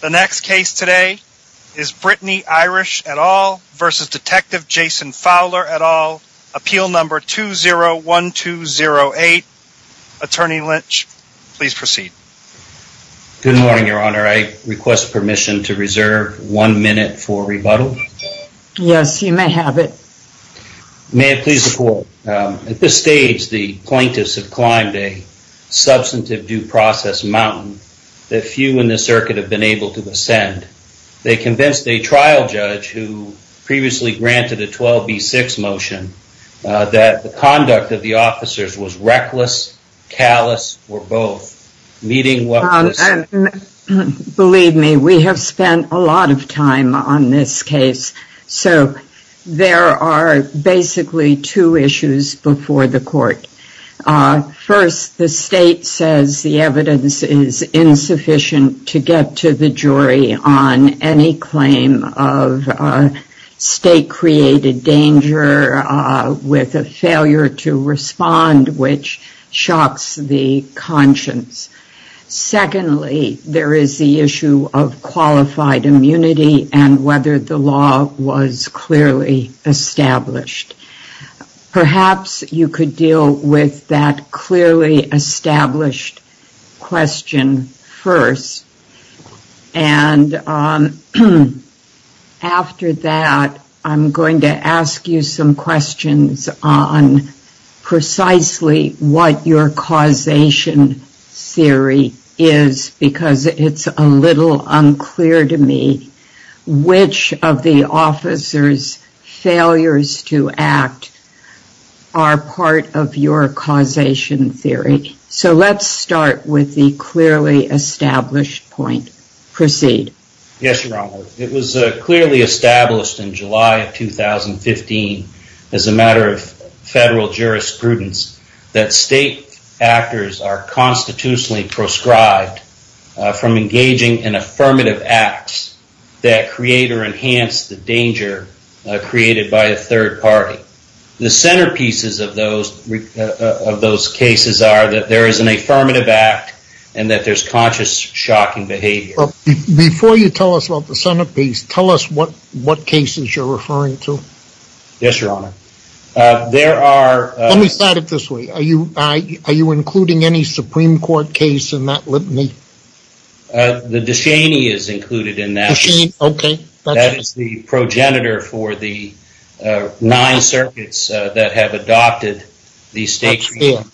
The next case today is Brittany Irish et al. v. Detective Jason Fowler et al. Appeal number 201208. Attorney Lynch, please proceed. Good morning, Your Honor. I request permission to reserve one minute for rebuttal. Yes, you may have it. May it please the Court, at this stage the plaintiffs have climbed a substantive due process mountain that few in the circuit have been able to ascend. They convinced a trial judge, who previously granted a 12B6 motion, that the conduct of the officers was reckless, callous, or both, meeting what was— Believe me, we have spent a lot of time on this case, so there are basically two issues before the Court. First, the State says the evidence is insufficient to get to the jury on any claim of State-created danger with a failure to respond, which shocks the conscience. Secondly, there is the issue of qualified immunity and whether the law was clearly established. Perhaps you could deal with that clearly established question first, and after that, I'm going to ask you some questions on precisely what your causation theory is because it's a little unclear to me which of the officers' failures to act are part of your causation theory. Let's start with the clearly established point. Proceed. Yes, Your Honor. It was clearly established in July of 2015, as a matter of Federal jurisprudence, that State actors are constitutionally proscribed from engaging in affirmative acts that create or enhance the danger created by a third party. The centerpieces of those cases are that there is an affirmative act and that there's conscious shocking behavior. Before you tell us about the centerpiece, tell us what cases you're referring to. Yes, Your Honor. Let me start it this way. Are you including any Supreme Court case in that? The Descheny is included in that. Descheny? Okay. That is the progenitor for the nine circuits that have adopted the State- That's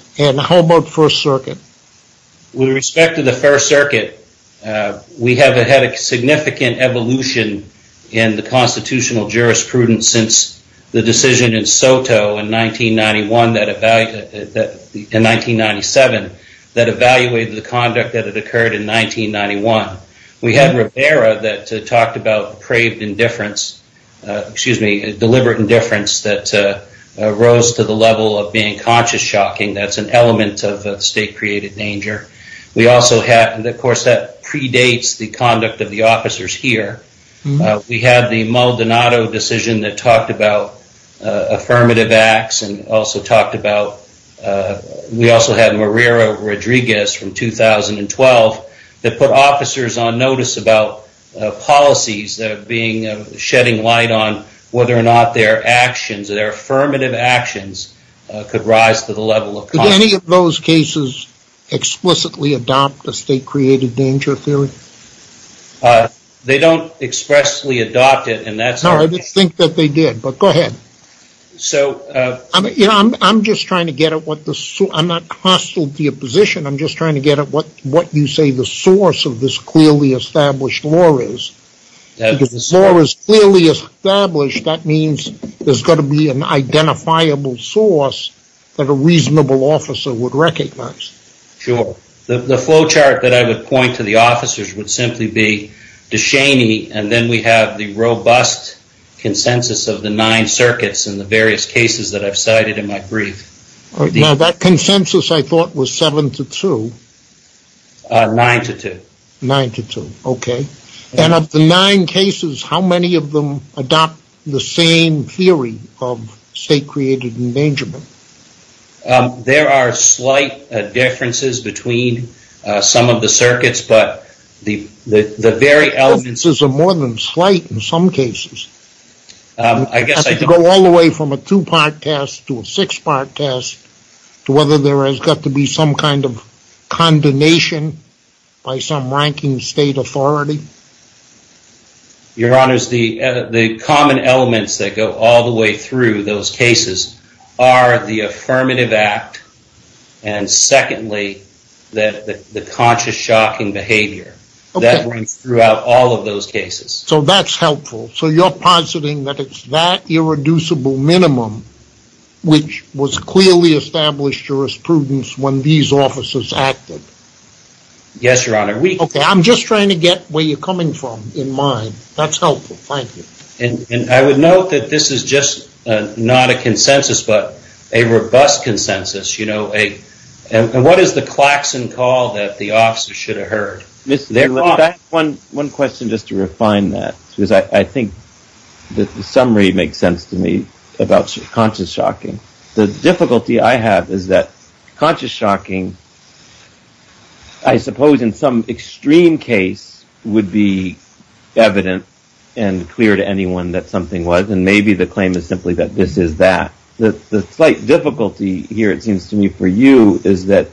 fair. How about First Circuit? With respect to the First Circuit, we have had a significant evolution in the constitutional jurisprudence since the decision in SOTO in 1997 that evaluated the conduct that had occurred in 1991. We had Rivera that talked about deliberate indifference that rose to the level of being conscious shocking. That's an element of State-created danger. We also have... Of course, that predates the conduct of the officers here. We had the Maldonado decision that talked about affirmative acts and also talked about... We also have Marrero Rodriguez from 2012 that put officers on notice about policies that are shedding light on whether or not their actions, their affirmative actions, could rise to the level of- Did any of those cases explicitly adopt the State-created danger theory? They don't expressly adopt it and that's- No, I didn't think that they did, but go ahead. I'm just trying to get at what the... I'm not hostile to your position. I'm just trying to get at what you say the source of this clearly established law is. If the law is clearly established, that means there's got to be an reasonable officer would recognize. Sure. The flow chart that I would point to the officers would simply be DeShaney and then we have the robust consensus of the nine circuits and the various cases that I've cited in my brief. Now, that consensus I thought was seven to two. Nine to two. Nine to two, okay. Of the nine cases, how many of them adopt the same theory of State-created endangerment? There are slight differences between some of the circuits, but the very elements- The differences are more than slight in some cases. I guess I don't- You have to go all the way from a two-part test to a six-part test to whether there has got to be some kind of condemnation by some ranking State authority. Your Honors, the common elements that go all the way through those cases are the affirmative act and secondly, the conscious shocking behavior that runs throughout all of those cases. That's helpful. You're positing that it's that irreducible minimum which was clearly established jurisprudence when these officers acted? Yes, Your Honor. Okay. I'm just trying to get where you're coming from in mind. That's helpful. Thank you. I would note that this is just not a consensus, but a robust consensus. What is the klaxon call that the officer should have heard? One question just to refine that because I think the summary makes sense to me about conscious shocking. The difficulty I have is that conscious shocking, I suppose in some extreme case, would be evident and clear to anyone that something was and maybe the claim is simply that this is that. The slight difficulty here, it seems to me, for you, is that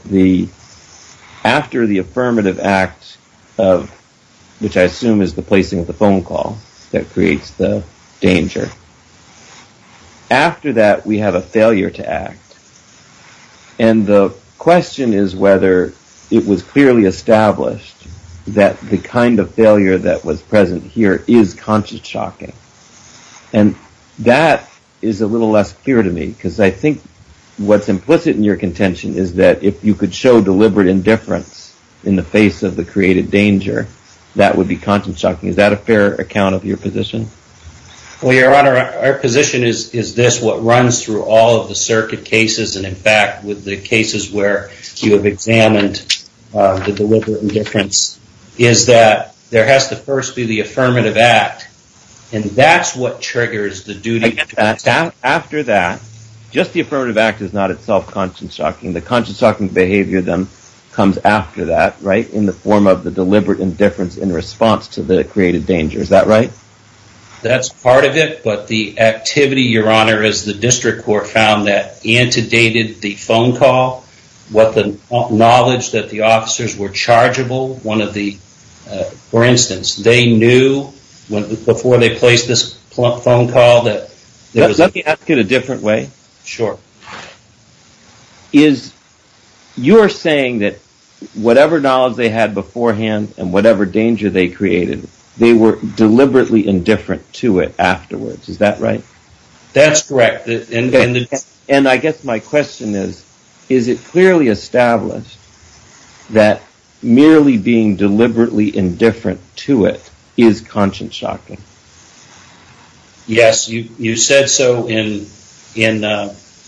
after the affirmative act of, which I assume is the placing of the phone call that creates the danger. After that, we have a failure to act. And the question is whether it was clearly established that the kind of failure that was present here is conscious shocking. And that is a little less clear to me because I think what's implicit in your contention is that if you could show deliberate indifference in the face of the created danger, that would be conscious shocking. Is that a fair account of your position? Well, Your Honor, our position is this, what runs through all of the circuit cases, and in fact, with the cases where you have examined the deliberate indifference, is that there has to first be the affirmative act. And that's what triggers the duty. After that, just the affirmative act is not itself conscious shocking. The conscious shocking behavior then comes after that, right, in the form of the deliberate indifference in response to the created danger. Is that right? That's part of it, but the activity, Your Honor, as the district court found that antedated the phone call, what the knowledge that the officers were chargeable, one of the, for instance, they knew before they placed this phone call that there was... Let me ask it a different way. Sure. You're saying that whatever knowledge they had beforehand and whatever danger they created, they were deliberately indifferent to it afterwards. Is that right? That's correct. And I guess my question is, is it clearly established that merely being deliberately indifferent to it is conscious shocking? Yes, you said so in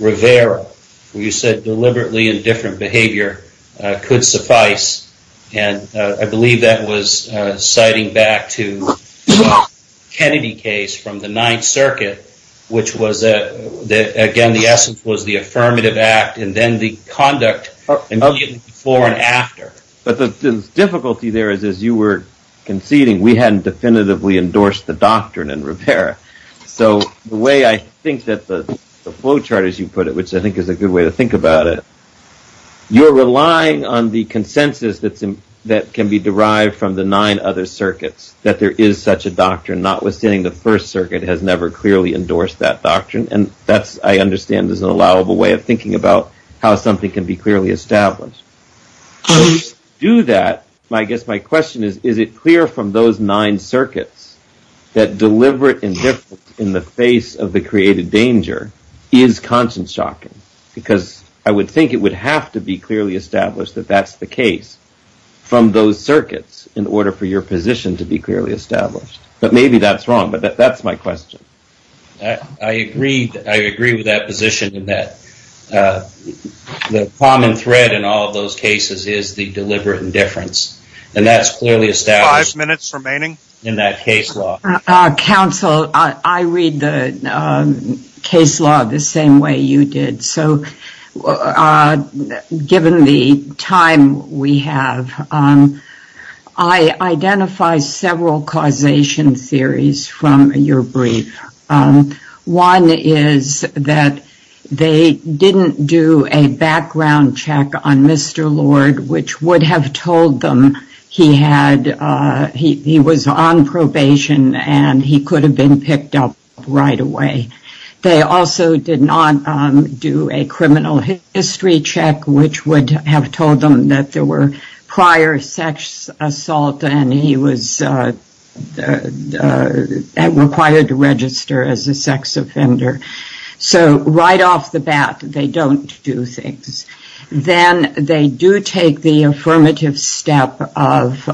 Rivera, where you said deliberately indifferent behavior could suffice, and I believe that was citing back to Kennedy case from the Ninth Circuit, which was, again, the essence was the affirmative act and then the conduct immediately before and after. But the difficulty there is, as you were conceding, we hadn't definitively endorsed the doctrine in Rivera. So the way I think that the flow chart, as you put it, which I think is a good way to think about it, you're relying on the consensus that can be derived from the nine other circuits, that there is such a doctrine, notwithstanding the First Circuit has never clearly endorsed that doctrine. And that's, I understand, is an allowable way of thinking about how something can be clearly established. To do that, I guess my question is, is it clear from those nine circuits that deliberate indifference in the face of the danger is conscious shocking? Because I would think it would have to be clearly established that that's the case from those circuits in order for your position to be clearly established. But maybe that's wrong. But that's my question. I agree. I agree with that position in that the common thread in all of those cases is the deliberate indifference. And that's clearly established. Five minutes remaining. In that case law. Counsel, I read the case law the same way you did. So given the time we have, I identify several causation theories from your brief. One is that they didn't do a background check on Mr. Lord, which would have told them he had, he was on probation and he could have been picked up right away. They also did not do a criminal history check, which would have told them that there were prior sex assault and he was required to register as a sex offender. So right off the bat, they don't do things. Then they do take the affirmative step of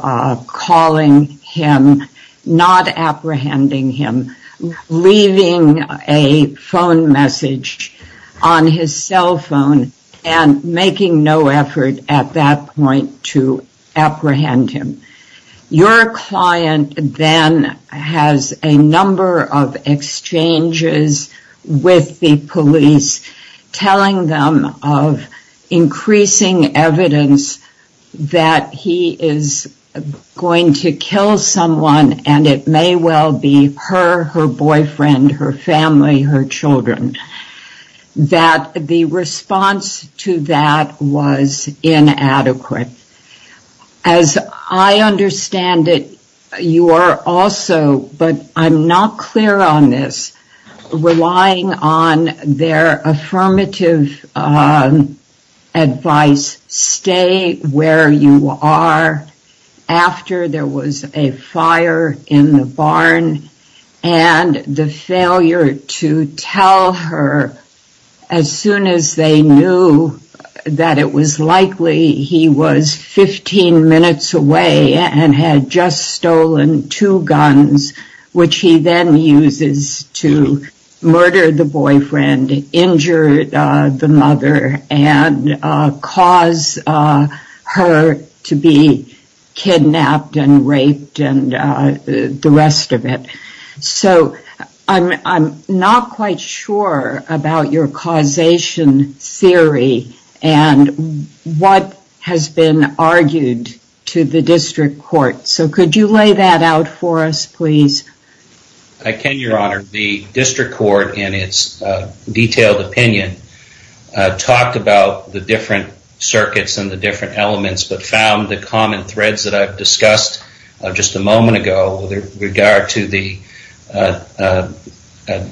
calling him, not apprehending him, leaving a phone message on his cell phone and making no effort at that point to apprehend him. Your client then has a number of exchanges with the police, telling them of increasing evidence that he is going to kill someone and it may well be her, her boyfriend, her family, her children. That the response to that was inadequate. As I understand it, you are also, but I'm not clear on this, relying on their affirmative advice, stay where you are after there was a fire in the barn and the failure to tell her as soon as they knew that it was likely he was 15 minutes away and had just stolen two guns, which he then uses to murder the boyfriend, injure the mother, and cause her to be a victim. Can you lay that out for us, please? I can, Your Honor. The district court in its detailed opinion talked about the different circuits and the different elements, but found the common threads that I've discussed just a moment ago with regard to the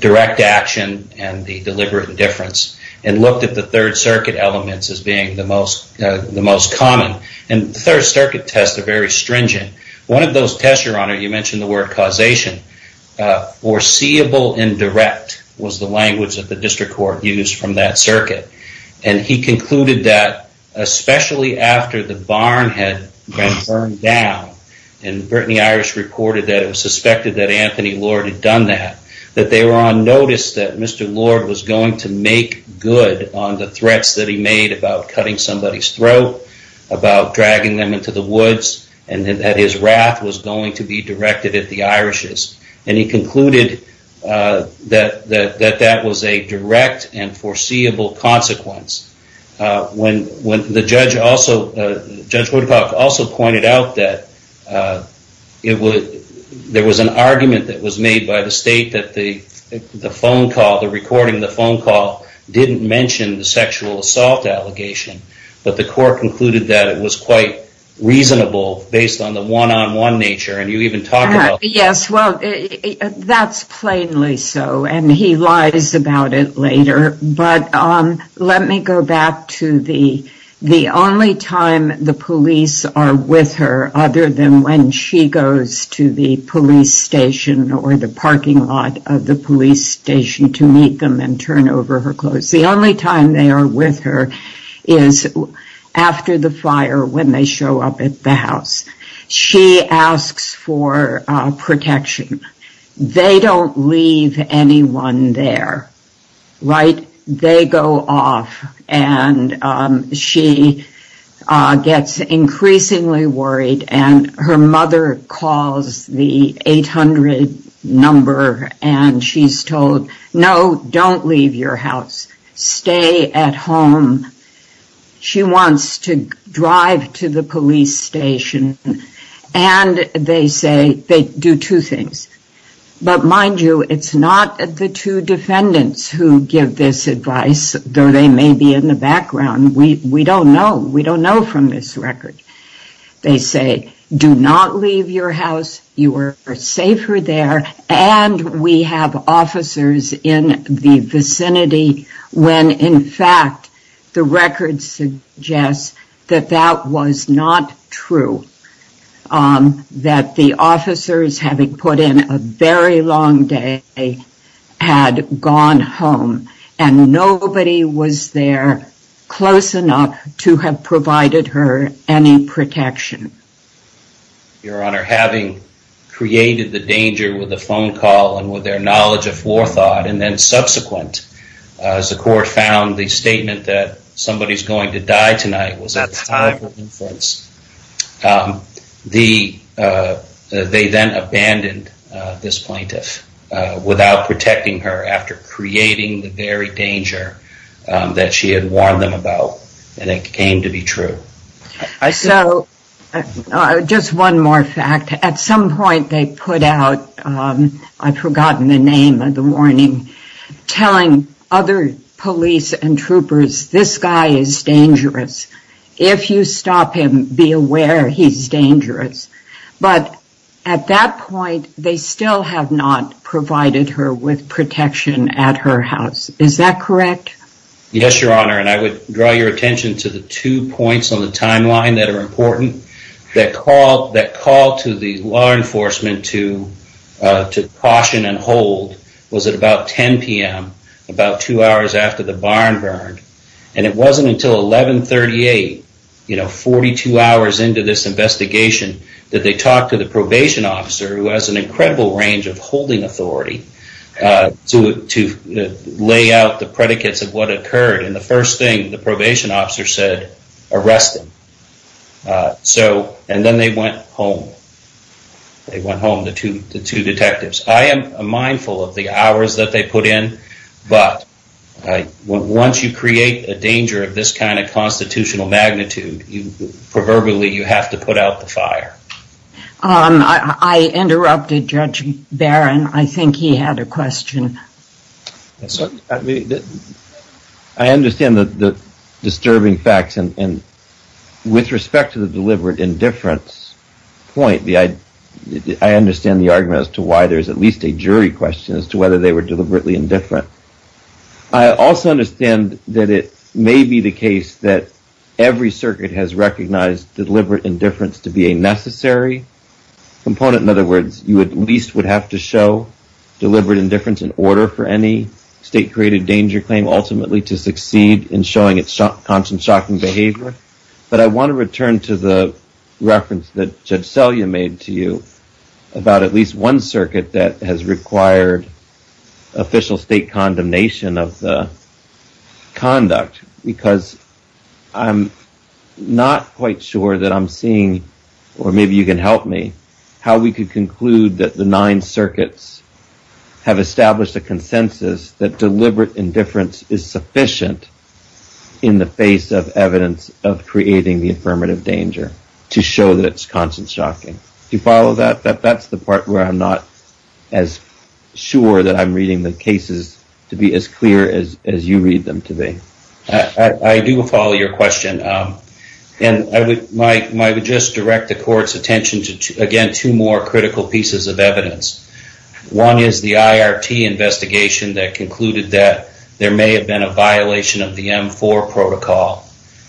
direct action and the deliberate indifference, and looked at the third circuit elements as being the most common. The third circuit tests are very stringent. One of those tests, Your Honor, you mentioned the word causation, foreseeable and direct was the language that the district court used from that circuit. He concluded that especially after the barn had been burned down, and Brittany Irish reported that it was suspected that Anthony Lord had done that, that they were on notice that Mr. Lord was going to make good on the threats that he made about cutting somebody's throat, about dragging them into the woods, and that his wrath was going to be directed at the Irish's. He concluded that that was a direct and foreseeable consequence. Judge Woodcock also pointed out that there was an argument that was made by the state that the phone call, the recording of the phone call, didn't mention the sexual assault allegation, but the court concluded that it was quite reasonable based on the one-on-one nature, Yes, well, that's plainly so, and he lies about it later, but let me go back to the only time the police are with her other than when she goes to the police station or the parking lot of the police station to meet them and turn over her clothes. The only time they are with her is after the fire, when they show up at the house. She asks for protection. They don't leave anyone there, right? They go off, and she gets increasingly worried, and her mother calls the She wants to drive to the police station, and they say they do two things, but mind you, it's not the two defendants who give this advice, though they may be in the background. We don't know. We don't know from this record. They say, do not leave your house. You are safer there, and we have officers in the vicinity when, in fact, the record suggests that that was not true, that the officers, having put in a very long day, had gone home, and nobody was there close enough to have provided her any protection. Your Honor, having created the danger with the phone call and with their knowledge of forethought, and then subsequent, as the court found the statement that somebody is going to die tonight was a type of influence, they then abandoned this plaintiff without protecting her after creating the very danger that she had warned them about, and it came to be true. So, just one more fact. At some point, they put out, I've forgotten the name of the warning, telling other police and troopers, this guy is dangerous. If you stop him, be aware he's dangerous, but at that point, they still have not provided her with protection. I want to draw your attention to the two points on the timeline that are important. That call to the law enforcement to caution and hold was at about 10 p.m., about two hours after the barn burned, and it wasn't until 1138, 42 hours into this investigation, that they talked to the probation officer, who has an incredible range of holding authority, to lay out the probation officer said, arrest him. So, and then they went home. They went home, the two detectives. I am mindful of the hours that they put in, but once you create a danger of this kind of constitutional magnitude, proverbially, you have to put out the fire. I interrupted Judge Barron. I think he had a question. I understand the disturbing facts, and with respect to the deliberate indifference point, I understand the argument as to why there's at least a jury question as to whether they were deliberately indifferent. I also understand that it may be the case that every circuit has recognized deliberate indifference to be a necessary component. In other words, you at least have to show deliberate indifference in order for any state-created danger claim, ultimately, to succeed in showing its constant shocking behavior, but I want to return to the reference that Judge Selye made to you about at least one circuit that has required official state condemnation of the conduct, because I'm not quite sure that I'm seeing, or maybe you can help me, how we could conclude that the nine circuits have established a consensus that deliberate indifference is sufficient in the face of evidence of creating the affirmative danger to show that it's constant shocking. Do you follow that? That's the part where I'm not as sure that I'm reading the cases to be as clear as you read them to be. I do follow your question, and I would just direct the Court's attention to, again, two more critical pieces of evidence. One is the IRT investigation that concluded that there may have been a violation of the M4 protocol,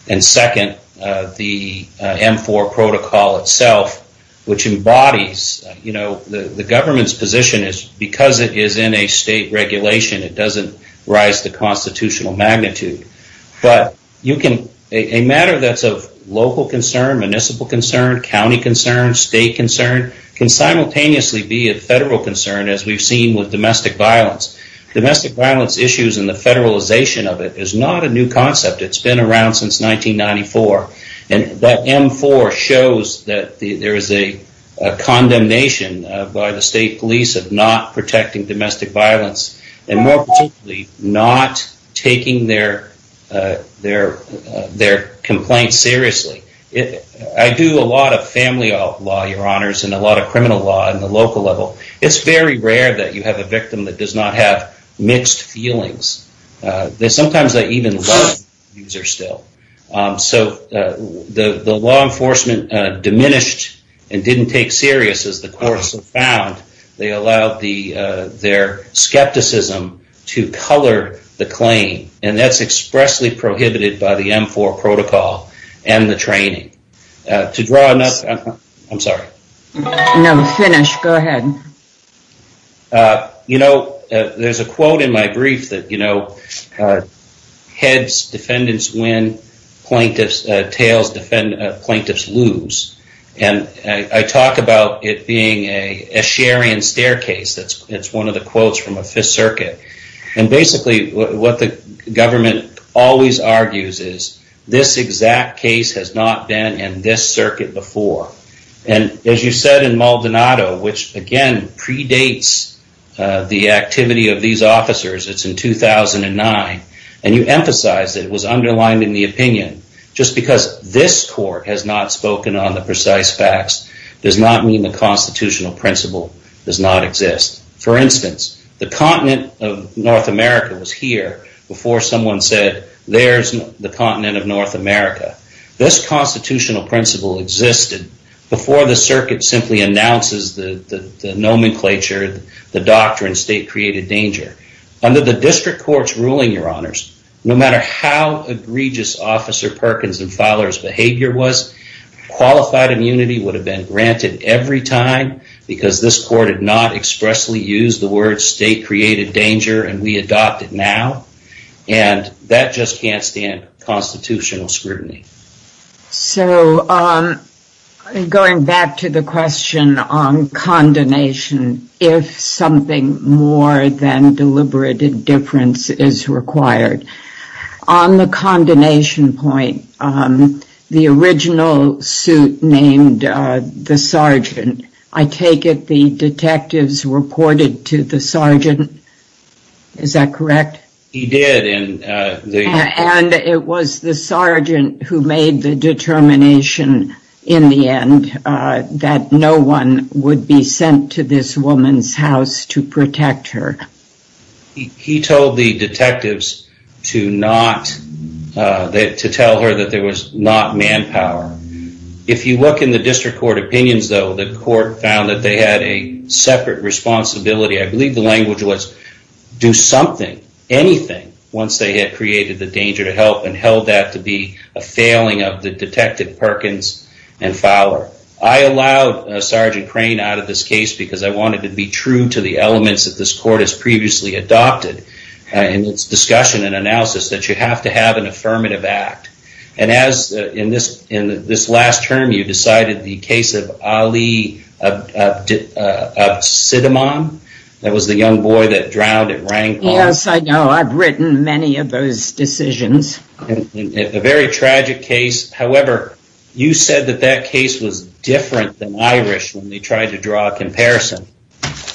and second, the M4 protocol itself, which embodies the government's position is because it is in a state regulation, it doesn't rise to constitutional magnitude, but a matter that's of local concern, municipal concern, county concern, state concern, can simultaneously be a federal concern, as we've seen with domestic violence. Domestic violence issues and the federalization of it is not a new concept. It's been around since 1994, and that M4 shows that there is a condemnation by the state police of not protecting domestic violence, and more particularly, not taking their complaint seriously. I do a lot of family law, Your Honors, and a lot of criminal law on the local level. It's very rare that you have a victim that does not have mixed feelings. Sometimes they even love the abuser still. So the law enforcement diminished and didn't take the case as serious as the courts have found. They allowed their skepticism to color the claim, and that's expressly prohibited by the M4 protocol and the training. To draw enough... I'm sorry. No, finish. Go ahead. You know, there's a quote in my brief that heads defendants win, tails plaintiffs lose, and I talk about it being a Assyrian staircase. That's one of the quotes from a Fifth Circuit, and basically what the government always argues is this exact case has not been in this circuit before, and as you said in Maldonado, which again predates the activity of these officers, it's in 2009, and you emphasize it was underlined in the opinion just because this court has not spoken on the precise facts does not mean the constitutional principle does not exist. For instance, the continent of North America was here before someone said, there's the continent of North America. This constitutional principle existed before the circuit simply announces the nomenclature, the doctrine state created danger. Under the district court's ruling, Your Honors, no matter how egregious Officer Perkins and Fowler's behavior was, qualified immunity would have been granted every time because this court had not expressly used the words state created danger and we adopt it now, and that just can't stand constitutional scrutiny. So going back to the question on condemnation, if something more than named the sergeant, I take it the detectives reported to the sergeant, is that correct? He did. And it was the sergeant who made the determination in the end that no one would be sent to this woman's house to protect her. He told the detectives to not, that to tell her that there was not manpower. If you look in the district court opinions though, the court found that they had a separate responsibility. I believe the language was do something, anything, once they had created the danger to help and held that to be a failing of the detective Perkins and Fowler. I allowed Sergeant Crane out of this case because I wanted to be true to the elements that this court has previously adopted in its discussion and analysis that you have to have an affirmative act. And as in this, in this last term, you decided the case of Ali Absidmon, that was the young boy that drowned at rank. Yes, I know. I've written many of those decisions. A very tragic case. However, you said that that case was different than Irish when they tried to draw a comparison.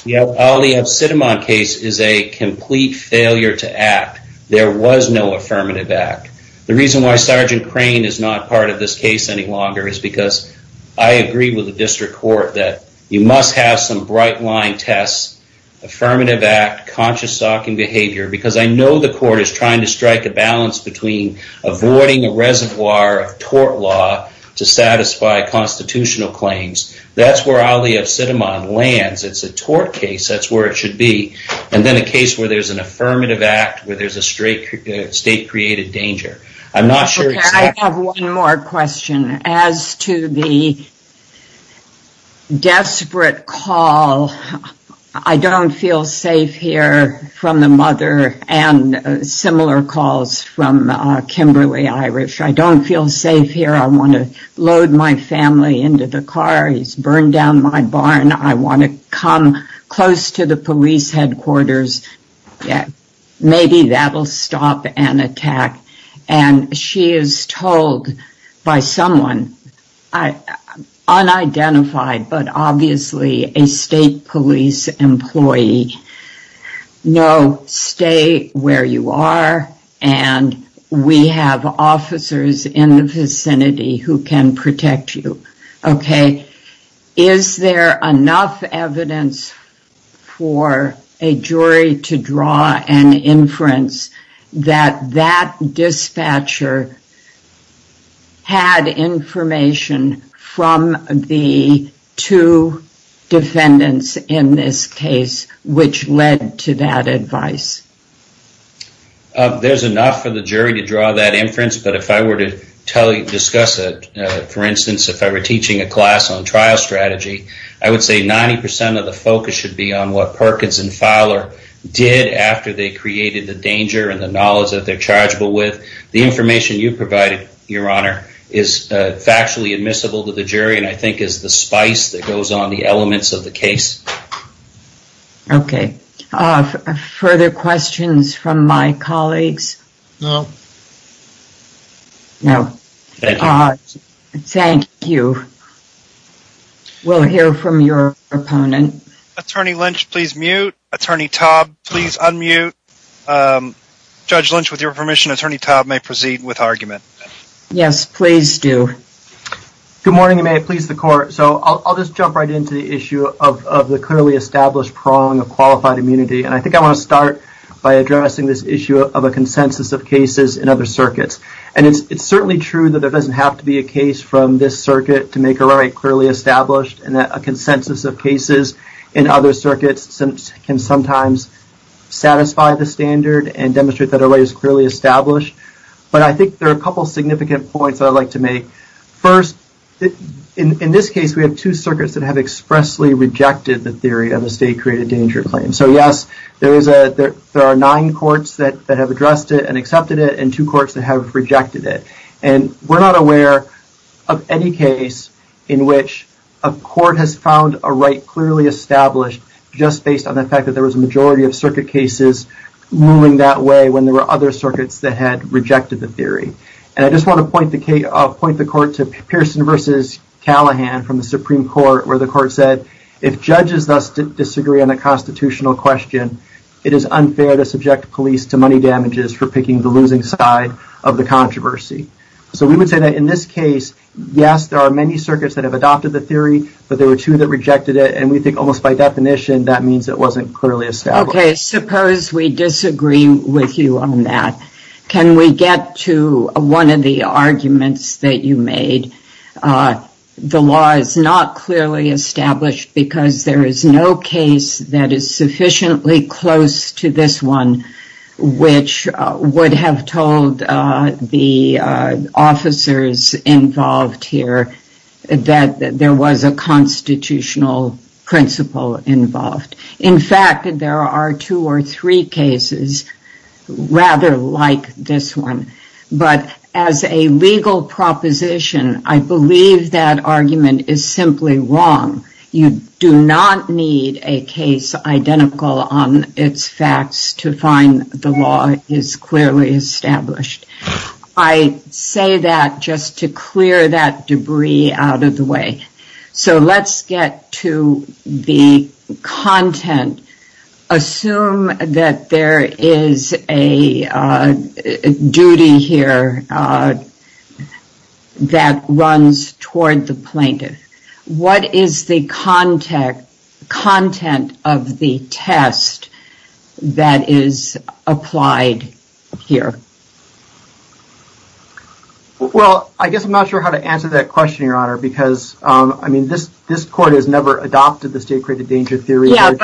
The Ali Absidmon case is a complete failure to act. There was no affirmative act. The reason why Sergeant Crane is not part of this case any longer is because I agree with the district court that you must have some bright line tests, affirmative act, conscious stalking behavior, because I know the court is trying to strike a balance between avoiding a reservoir of tort law to satisfy constitutional claims. That's where Ali Absidmon lands. It's a tort case. That's where it should be. And then a case where there's an affirmative act, where there's a straight state created danger. I'm not sure. I have one more question. As to the desperate call, I don't feel safe here from the mother and similar calls from Kimberly Irish. I don't feel safe here. I want to load my family into the car. He's burned down my barn. I want to come close to the police headquarters. Maybe that'll stop an attack. And she is told by someone unidentified, but obviously a state police employee, no, stay where you are. And we have officers in the vicinity who can protect you. Okay. Is there enough evidence for a jury to draw an inference that that dispatcher had information from the two defendants in this case, which led to that advice? There's enough for the jury to draw that inference. But if I were to discuss it, for instance, if I were teaching a class on trial strategy, I would say 90% of the focus should be on what Perkins and Fowler did after they created the danger and the knowledge that they're chargeable with. The information you provided, your honor, is factually admissible to the jury, and I think is the spice that goes on the elements of the case. Okay. Further questions from my colleagues? No. No. Thank you. We'll hear from your opponent. Attorney Lynch, please mute. Attorney Taub, please unmute. Judge Lynch, with your permission, Attorney Taub may proceed with argument. Yes, please do. Good morning, and may it please the court. So I'll just jump right into the issue of the clearly established prong of qualified immunity. And I think I want to start by addressing this issue of a consensus of cases in other circuits. And it's certainly true that there doesn't have to be a case from this circuit to make a right clearly established, and that a consensus of cases in other circuits can sometimes satisfy the standard and demonstrate that a right is clearly established. But I think there are a couple significant points that I'd like to make. First, in this case, we have two circuits that have expressly rejected the theory of a state-created danger claim. So yes, there are nine courts that have addressed it and accepted it, and two courts that have rejected it. And we're not aware of any case in which a court has found a right clearly established just based on the fact that there was a majority of circuit cases moving that way when there were other circuits that had rejected the theory. And I just want to point the court to Pearson versus Callahan from the Supreme Court, where the court said, if judges thus disagree on a constitutional question, it is unfair to subject police to money damages for picking the losing side of the controversy. So we would say that in this case, yes, there are many circuits that have adopted the theory, but there were two that rejected it. And we think almost by definition, that means it wasn't clearly established. Okay, suppose we disagree with you on that. Can we get to one of the arguments that you made? The law is not clearly established because there is no case that is sufficiently close to this one, which would have told the officers involved here that there was a constitutional principle involved. In fact, there are two or three cases rather like this one. But as a legal proposition, I believe that argument is simply wrong. You do not need a case identical on its facts to find the law is clearly established. I say that just to clear that debris out of the way. So let's get to the content. Assume that there is a duty here that runs toward the plaintiff. What is the content of the test that is applied here? Well, I guess I'm not sure how to answer that question, Your Honor, because I mean, this court has never adopted the state-created danger theory. Yeah,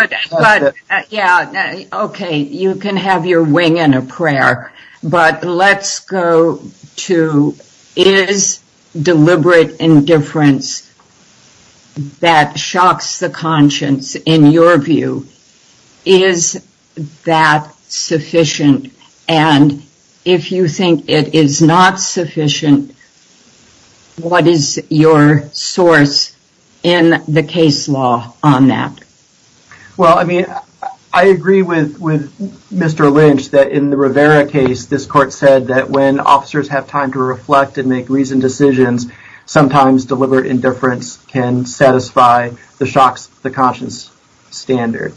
okay, you can have your wing and a prayer. But let's go to, is deliberate indifference that shocks the conscience, in your view, is that sufficient? And if you think it is not sufficient, what is your source in the case law on that? Well, I mean, I agree with Mr. Lynch that in the Rivera case, this court said that when officers have time to reflect and make reasoned decisions, sometimes deliberate indifference can satisfy the shocks, the conscience standard.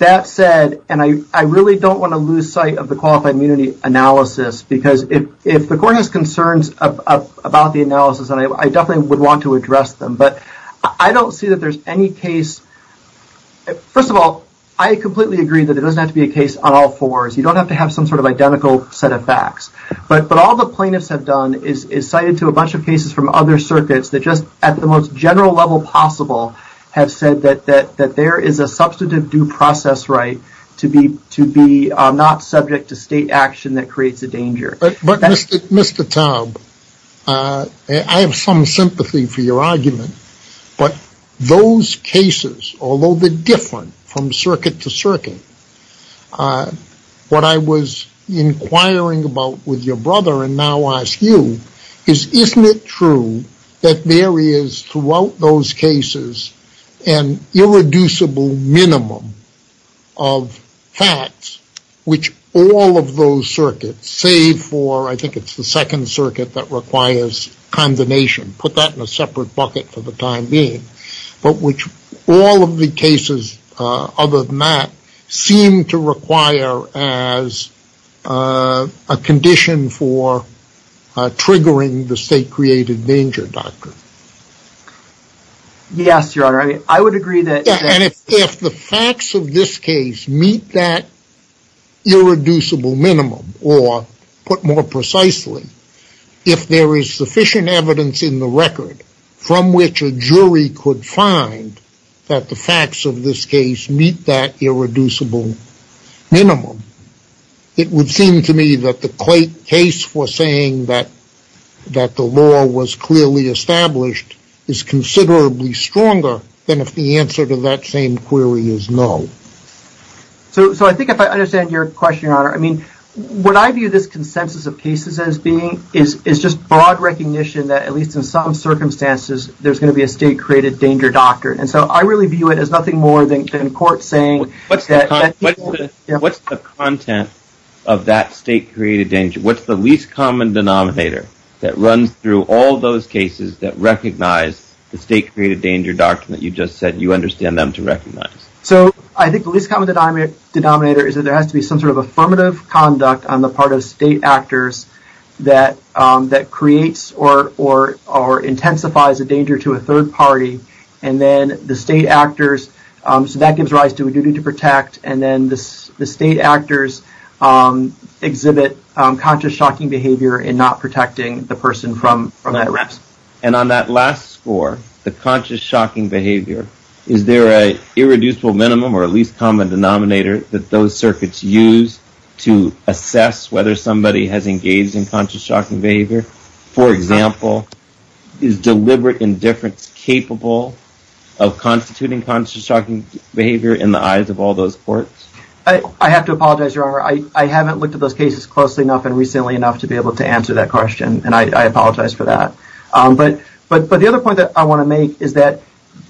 That said, and I really don't want to lose sight of the qualified immunity analysis, because if the court has concerns about the analysis, and I definitely would want to address them, but I don't see that there's any case. First of all, I completely agree that it doesn't have to be a case on all fours. You don't have to have some sort of identical set of facts, but all the plaintiffs have done is cited to a bunch of cases from other circuits that just at the most general level possible have said that there is a substantive due process right to be not subject to state action that creates a danger. But Mr. Taub, I have some sympathy for your argument, but those cases, although they're different from circuit to circuit, what I was inquiring about with your brother and now ask you is isn't it true that there is throughout those cases an irreducible minimum of facts which all of those circuits, save for I think it's the second circuit that requires condemnation, put that in a separate bucket for the time being, but which all of the cases other than that seem to require as a condition for triggering the state created danger doctrine. Yes, your honor, I would agree that. And if the facts of this case meet that irreducible minimum or put more precisely, if there is sufficient evidence in the record from which a jury could find that the facts of this case meet that irreducible minimum, it would seem to me that the case for saying that the law was clearly established is considerably stronger than if the answer to that same query is no. So I think if I understand your question, your honor, I mean, what I view this consensus of cases as being is just broad recognition that at And so I really view it as nothing more than court saying. What's the content of that state created danger? What's the least common denominator that runs through all those cases that recognize the state created danger doctrine that you just said you understand them to recognize? So I think the least common denominator is that there has to be some sort of affirmative conduct on the part of state actors that creates or intensifies a danger to a third party. And then the state actors, so that gives rise to a duty to protect. And then the state actors exhibit conscious shocking behavior and not protecting the person from that arrest. And on that last score, the conscious shocking behavior, is there a irreducible minimum or at least common denominator that those circuits use to assess whether somebody has engaged in conscious shocking behavior? For example, is deliberate indifference capable of constituting conscious shocking behavior in the eyes of all those courts? I have to apologize, your honor. I haven't looked at those cases closely enough and recently enough to be able to answer that question. And I apologize for that. But the other point that I want to make is that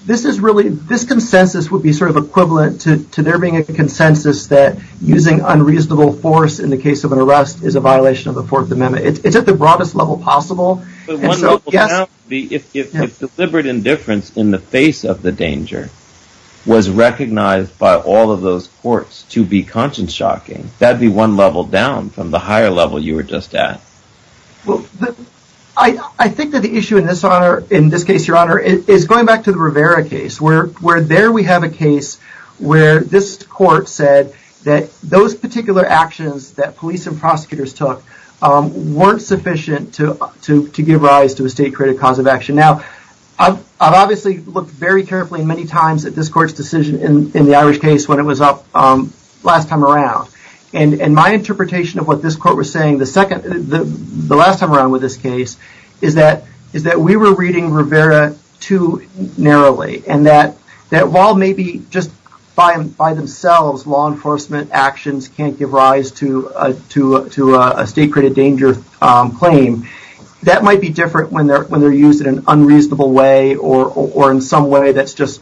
this is really, this consensus would be sort of equivalent to there being a consensus that using unreasonable force in the case of an arrest is a violation of the Fourth Amendment. It's at the broadest level possible. If deliberate indifference in the face of the danger was recognized by all of those courts to be conscious shocking, that'd be one level down from the higher level you were just at. I think that the issue in this honor, in this case, your honor, is going back to the Rivera case, where there we have a case where this court said that those particular actions that police and prosecutors took weren't sufficient to give rise to a state credit cause of action. Now, I've obviously looked very carefully many times at this court's decision in the Irish case when it was up last time around. And my interpretation of what this court was is that we were reading Rivera too narrowly. And that while maybe just by themselves, law enforcement actions can't give rise to a state credit danger claim, that might be different when they're used in an unreasonable way or in some way that's just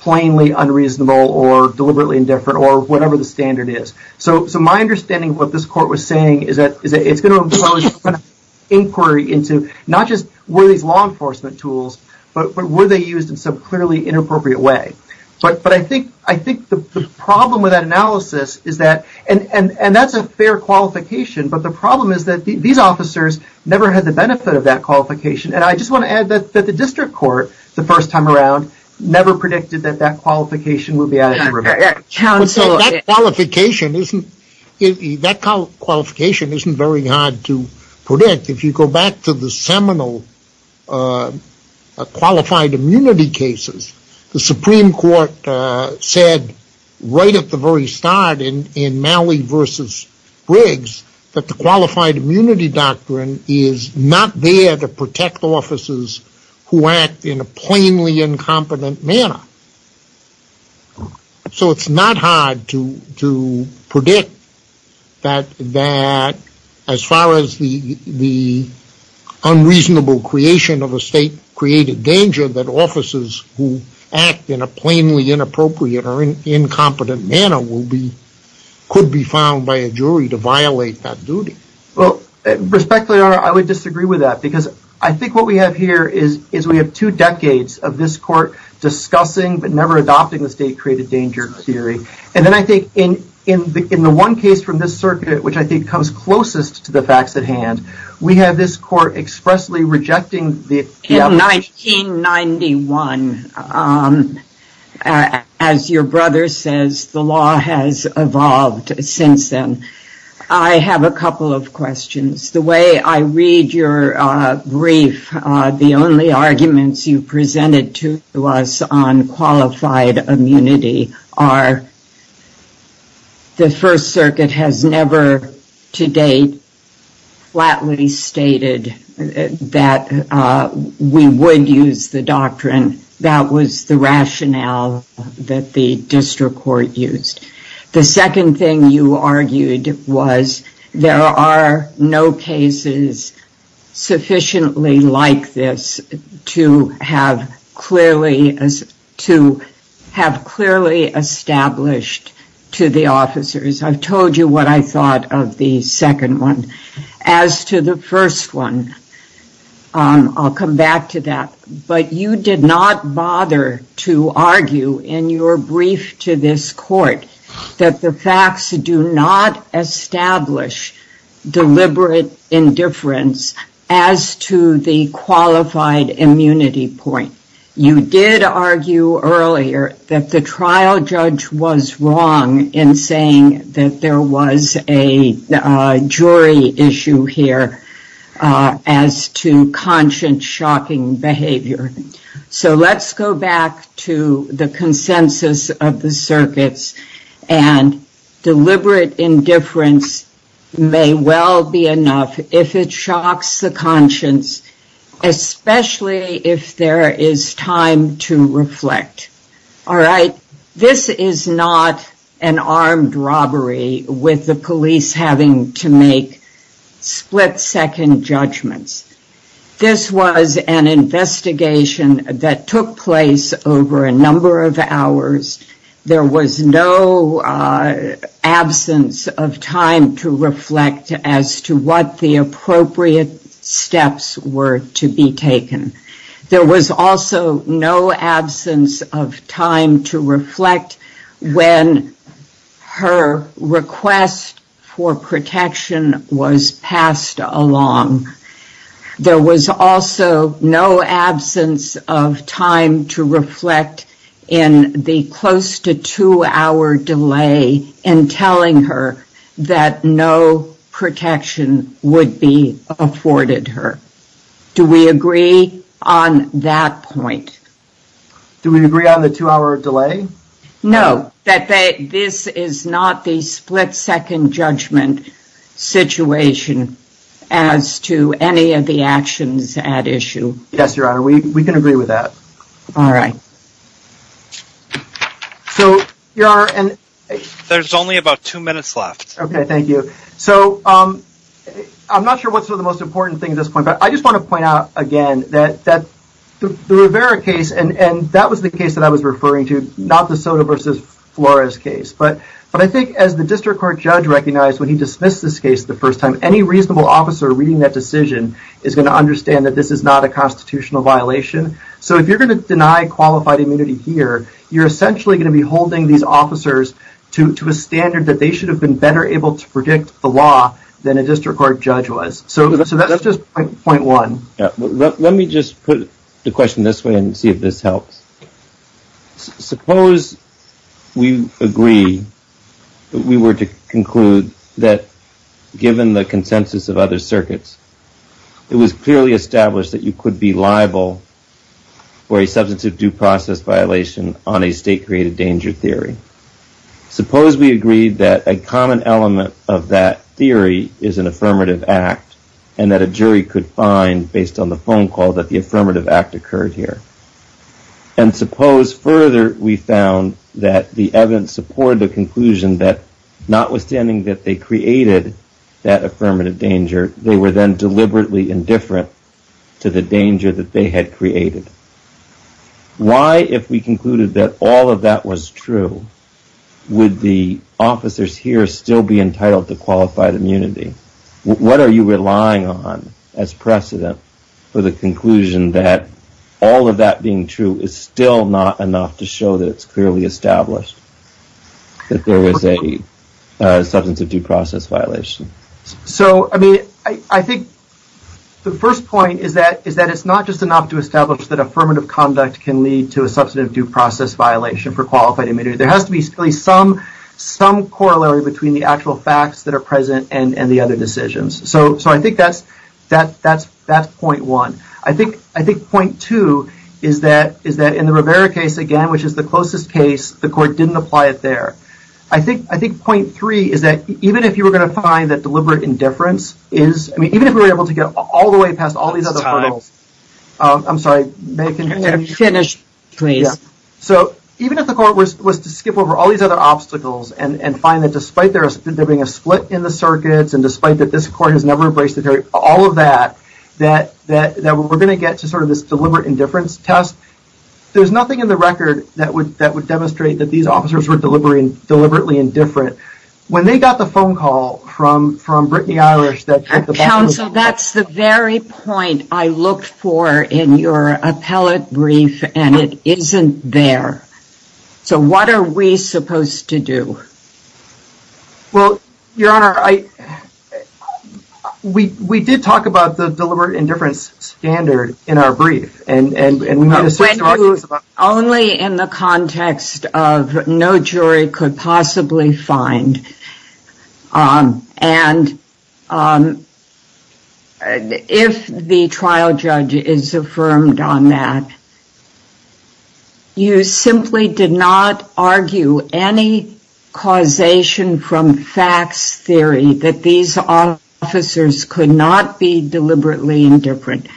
plainly unreasonable or deliberately indifferent or whatever the standard is. So my understanding of what this into, not just were these law enforcement tools, but were they used in some clearly inappropriate way? But I think the problem with that analysis is that, and that's a fair qualification, but the problem is that these officers never had the benefit of that qualification. And I just want to add that the district court, the first time around, never predicted that that qualification would be added to Rivera. That qualification isn't very hard to predict. If you go back to the seminal qualified immunity cases, the Supreme Court said right at the very start in Malley v. Briggs that the qualified immunity doctrine is not there to protect officers who act in a plainly incompetent manner. So it's not hard to predict that as far as the unreasonable creation of a state-created danger, that officers who act in a plainly inappropriate or incompetent manner could be found by a jury to violate that duty. Well, respectfully, Your Honor, I would disagree with that because I think what we have here is we have two decades of this court discussing but never adopting the state-created danger theory. And then I think in the one case from this circuit, which I think comes closest to the facts at hand, we have this court expressly rejecting the… In 1991, as your brother says, the law has evolved since then. I have a couple of questions. The way I read your brief, the only arguments you presented to us on qualified immunity are the First Circuit has never to date flatly stated that we would use the doctrine. That was the rationale that the district court used. The second thing you argued was there are no cases sufficiently like this to have clearly established to the officers. I've told you what I thought of the second one. As to the first one, I'll come back to that. But you did not bother to argue in your brief to this court that the facts do not establish deliberate indifference as to the qualified immunity point. You did argue earlier that the trial judge was wrong in saying that there was a jury issue here as to conscience shocking behavior. So let's go back to the consensus of the circuits and deliberate indifference may well be enough if it shocks the conscience, especially if there is time to reflect. This is not an armed robbery with the police having to make split second judgments. This was an investigation that took place over a number of hours. There was no absence of time to reflect as to what the appropriate steps were to be taken. There was also no absence of time to reflect when her request for protection was passed along. There was also no absence of time to reflect in the close to two hour delay in telling her that no protection would be afforded her. Do we agree on that point? Do we agree on the two hour delay? No, that this is not the split second judgment situation as to any of the actions at issue. Yes, your honor, we can agree with that. All right. So there's only about two minutes left. Okay, thank you. So I'm not sure what's the most important thing at this point, but I just want to point out again that the Rivera case, and that was the case that I was referring to, not the Soto versus Flores case. But I think as the district court judge recognized when he dismissed this case the first time, any reasonable officer reading that decision is going to understand that this is not a constitutional violation. So if you're going to deny qualified immunity here, you're essentially going to be holding these officers to a standard that they should have been better able to predict the law than a district court judge was. So that's just point one. Let me just put the question this way and see if this helps. Suppose we agree that we were to conclude that given the consensus of other circuits, it was clearly established that you could be liable for a substantive due process violation on a state created danger theory. Suppose we agreed that a common element of that theory is an affirmative act and that a jury could find based on the phone call that the affirmative act occurred here. And suppose further we found that the evidence supported the conclusion that notwithstanding that they created that affirmative danger, they were then deliberately indifferent to the danger that they had created. Why, if we concluded that all of that was true, would the officers here still be entitled to qualified immunity? What are you relying on as precedent for the conclusion that all of that being true is still not enough to show that it's clearly established that there was a substantive due process violation? So, I mean, I think the first point is that it's not just enough to establish that affirmative conduct can lead to a substantive due process violation for qualified immunity. There has to be some corollary between the actual facts that are present and the other decisions. So, I think that's point one. I think point two is that in the Rivera case, again, which is the closest case, the court didn't apply it there. I think point three is that even if you were going to find that deliberate indifference is, I mean, even if we were able to get all the way past all these hurdles, I'm sorry, may I continue? Finish, please. So, even if the court was to skip over all these other obstacles and find that despite there being a split in the circuits and despite that this court has never embraced the theory, all of that, that we're going to get to sort of this deliberate indifference test, there's nothing in the record that would demonstrate that these officers were deliberately indifferent. When they got the phone call from Brittany Irish that... That's the very point I looked for in your appellate brief and it isn't there. So, what are we supposed to do? Well, Your Honor, we did talk about the deliberate indifference standard in our brief and... Only in the context of no jury could possibly find that. And if the trial judge is affirmed on that, you simply did not argue any causation from facts theory that these officers could not be deliberately indifferent.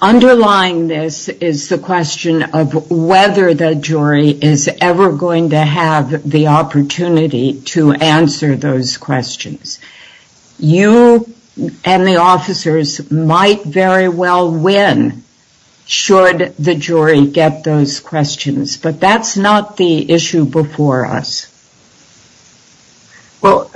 Underlying this is the question of whether the jury is ever going to have the opportunity to answer those questions. You and the officers might very well win should the jury get those questions, but that's not the issue before us. Well,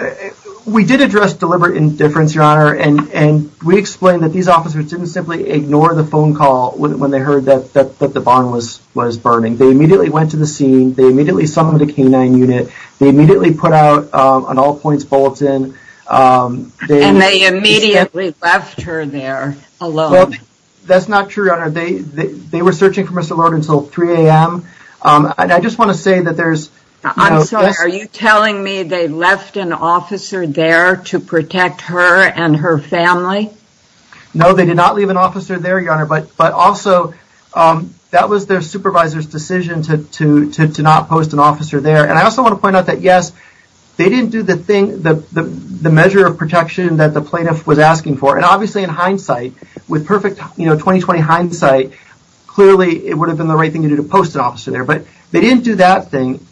we did address deliberate indifference, and we explained that these officers didn't simply ignore the phone call when they heard that the barn was burning. They immediately went to the scene. They immediately summoned a canine unit. They immediately put out an all points bulletin. And they immediately left her there alone. That's not true, Your Honor. They were searching for Mr. Lord until 3 a.m. And I just want to say that there's... I'm sorry, are you telling me they left an officer there to protect her and her family? No, they did not leave an officer there, Your Honor. But also, that was their supervisor's decision to not post an officer there. And I also want to point out that, yes, they didn't do the measure of protection that the plaintiff was asking for. And obviously in hindsight, with perfect 2020 hindsight, clearly it would have been the right thing to do to post an officer there. But they didn't do that thing.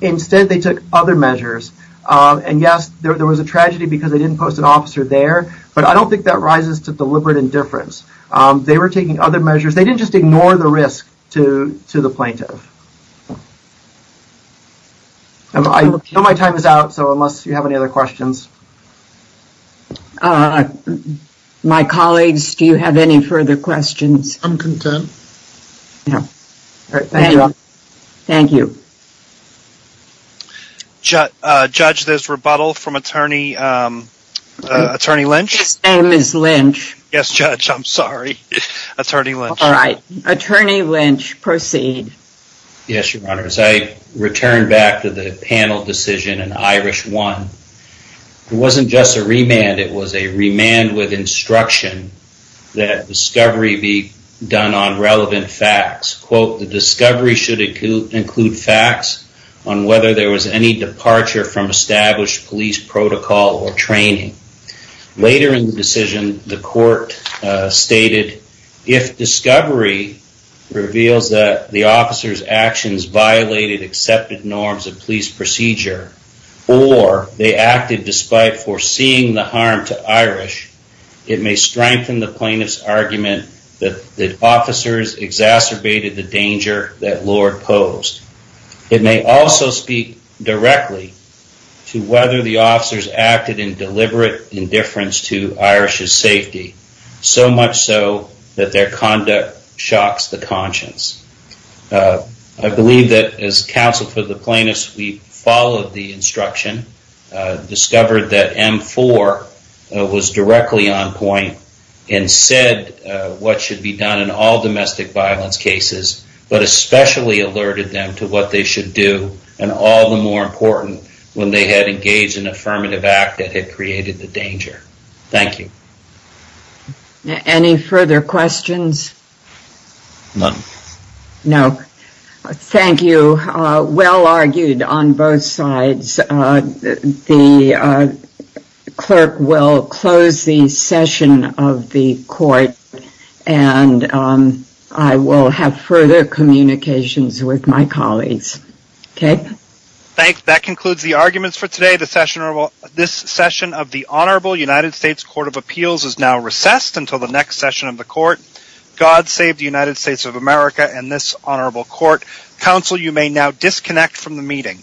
Instead, they took other measures. And yes, there was a tragedy because they didn't post an officer there, but I don't think that rises to deliberate indifference. They were taking other measures. They didn't just ignore the risk to the plaintiff. I know my time is out, so unless you have any other questions. My colleagues, do you have any further questions? I'm content. Thank you. Judge, there's rebuttal from Attorney Lynch. His name is Lynch. Yes, Judge, I'm sorry. Attorney Lynch. All right. Attorney Lynch, proceed. Yes, Your Honor. As I return back to the panel decision in Irish 1, it wasn't just a remand. It was a remand with instruction that discovery be done on relevant facts. Quote, the discovery should include facts on whether there was any departure from established police protocol or training. Later in the decision, the court stated, if discovery reveals that the officer's actions violated accepted norms of police procedure, or they acted despite foreseeing the harm to Irish, it may strengthen the plaintiff's argument that the officers exacerbated the danger that Lord posed. It may also speak directly to whether the officers acted in deliberate indifference to Irish's safety, so much so that their conduct shocks the conscience. I believe that as counsel for the plaintiffs, we followed the instruction, discovered that M4 was directly on point and said what should be done in all domestic violence cases, but especially alerted them to what they should do, and all the more important, when they had engaged in affirmative act that had created the danger. Thank you. Any further questions? None. No. Thank you. Well argued on both sides. The clerk will close the session of the court, and I will have further communications with my colleagues. Okay. Thanks. That concludes the arguments for today. This session of the Honorable United States Court of Appeals is now recessed until the next session of the court. God save the United States of America and this Honorable Court. Counsel, you may now disconnect from the meeting.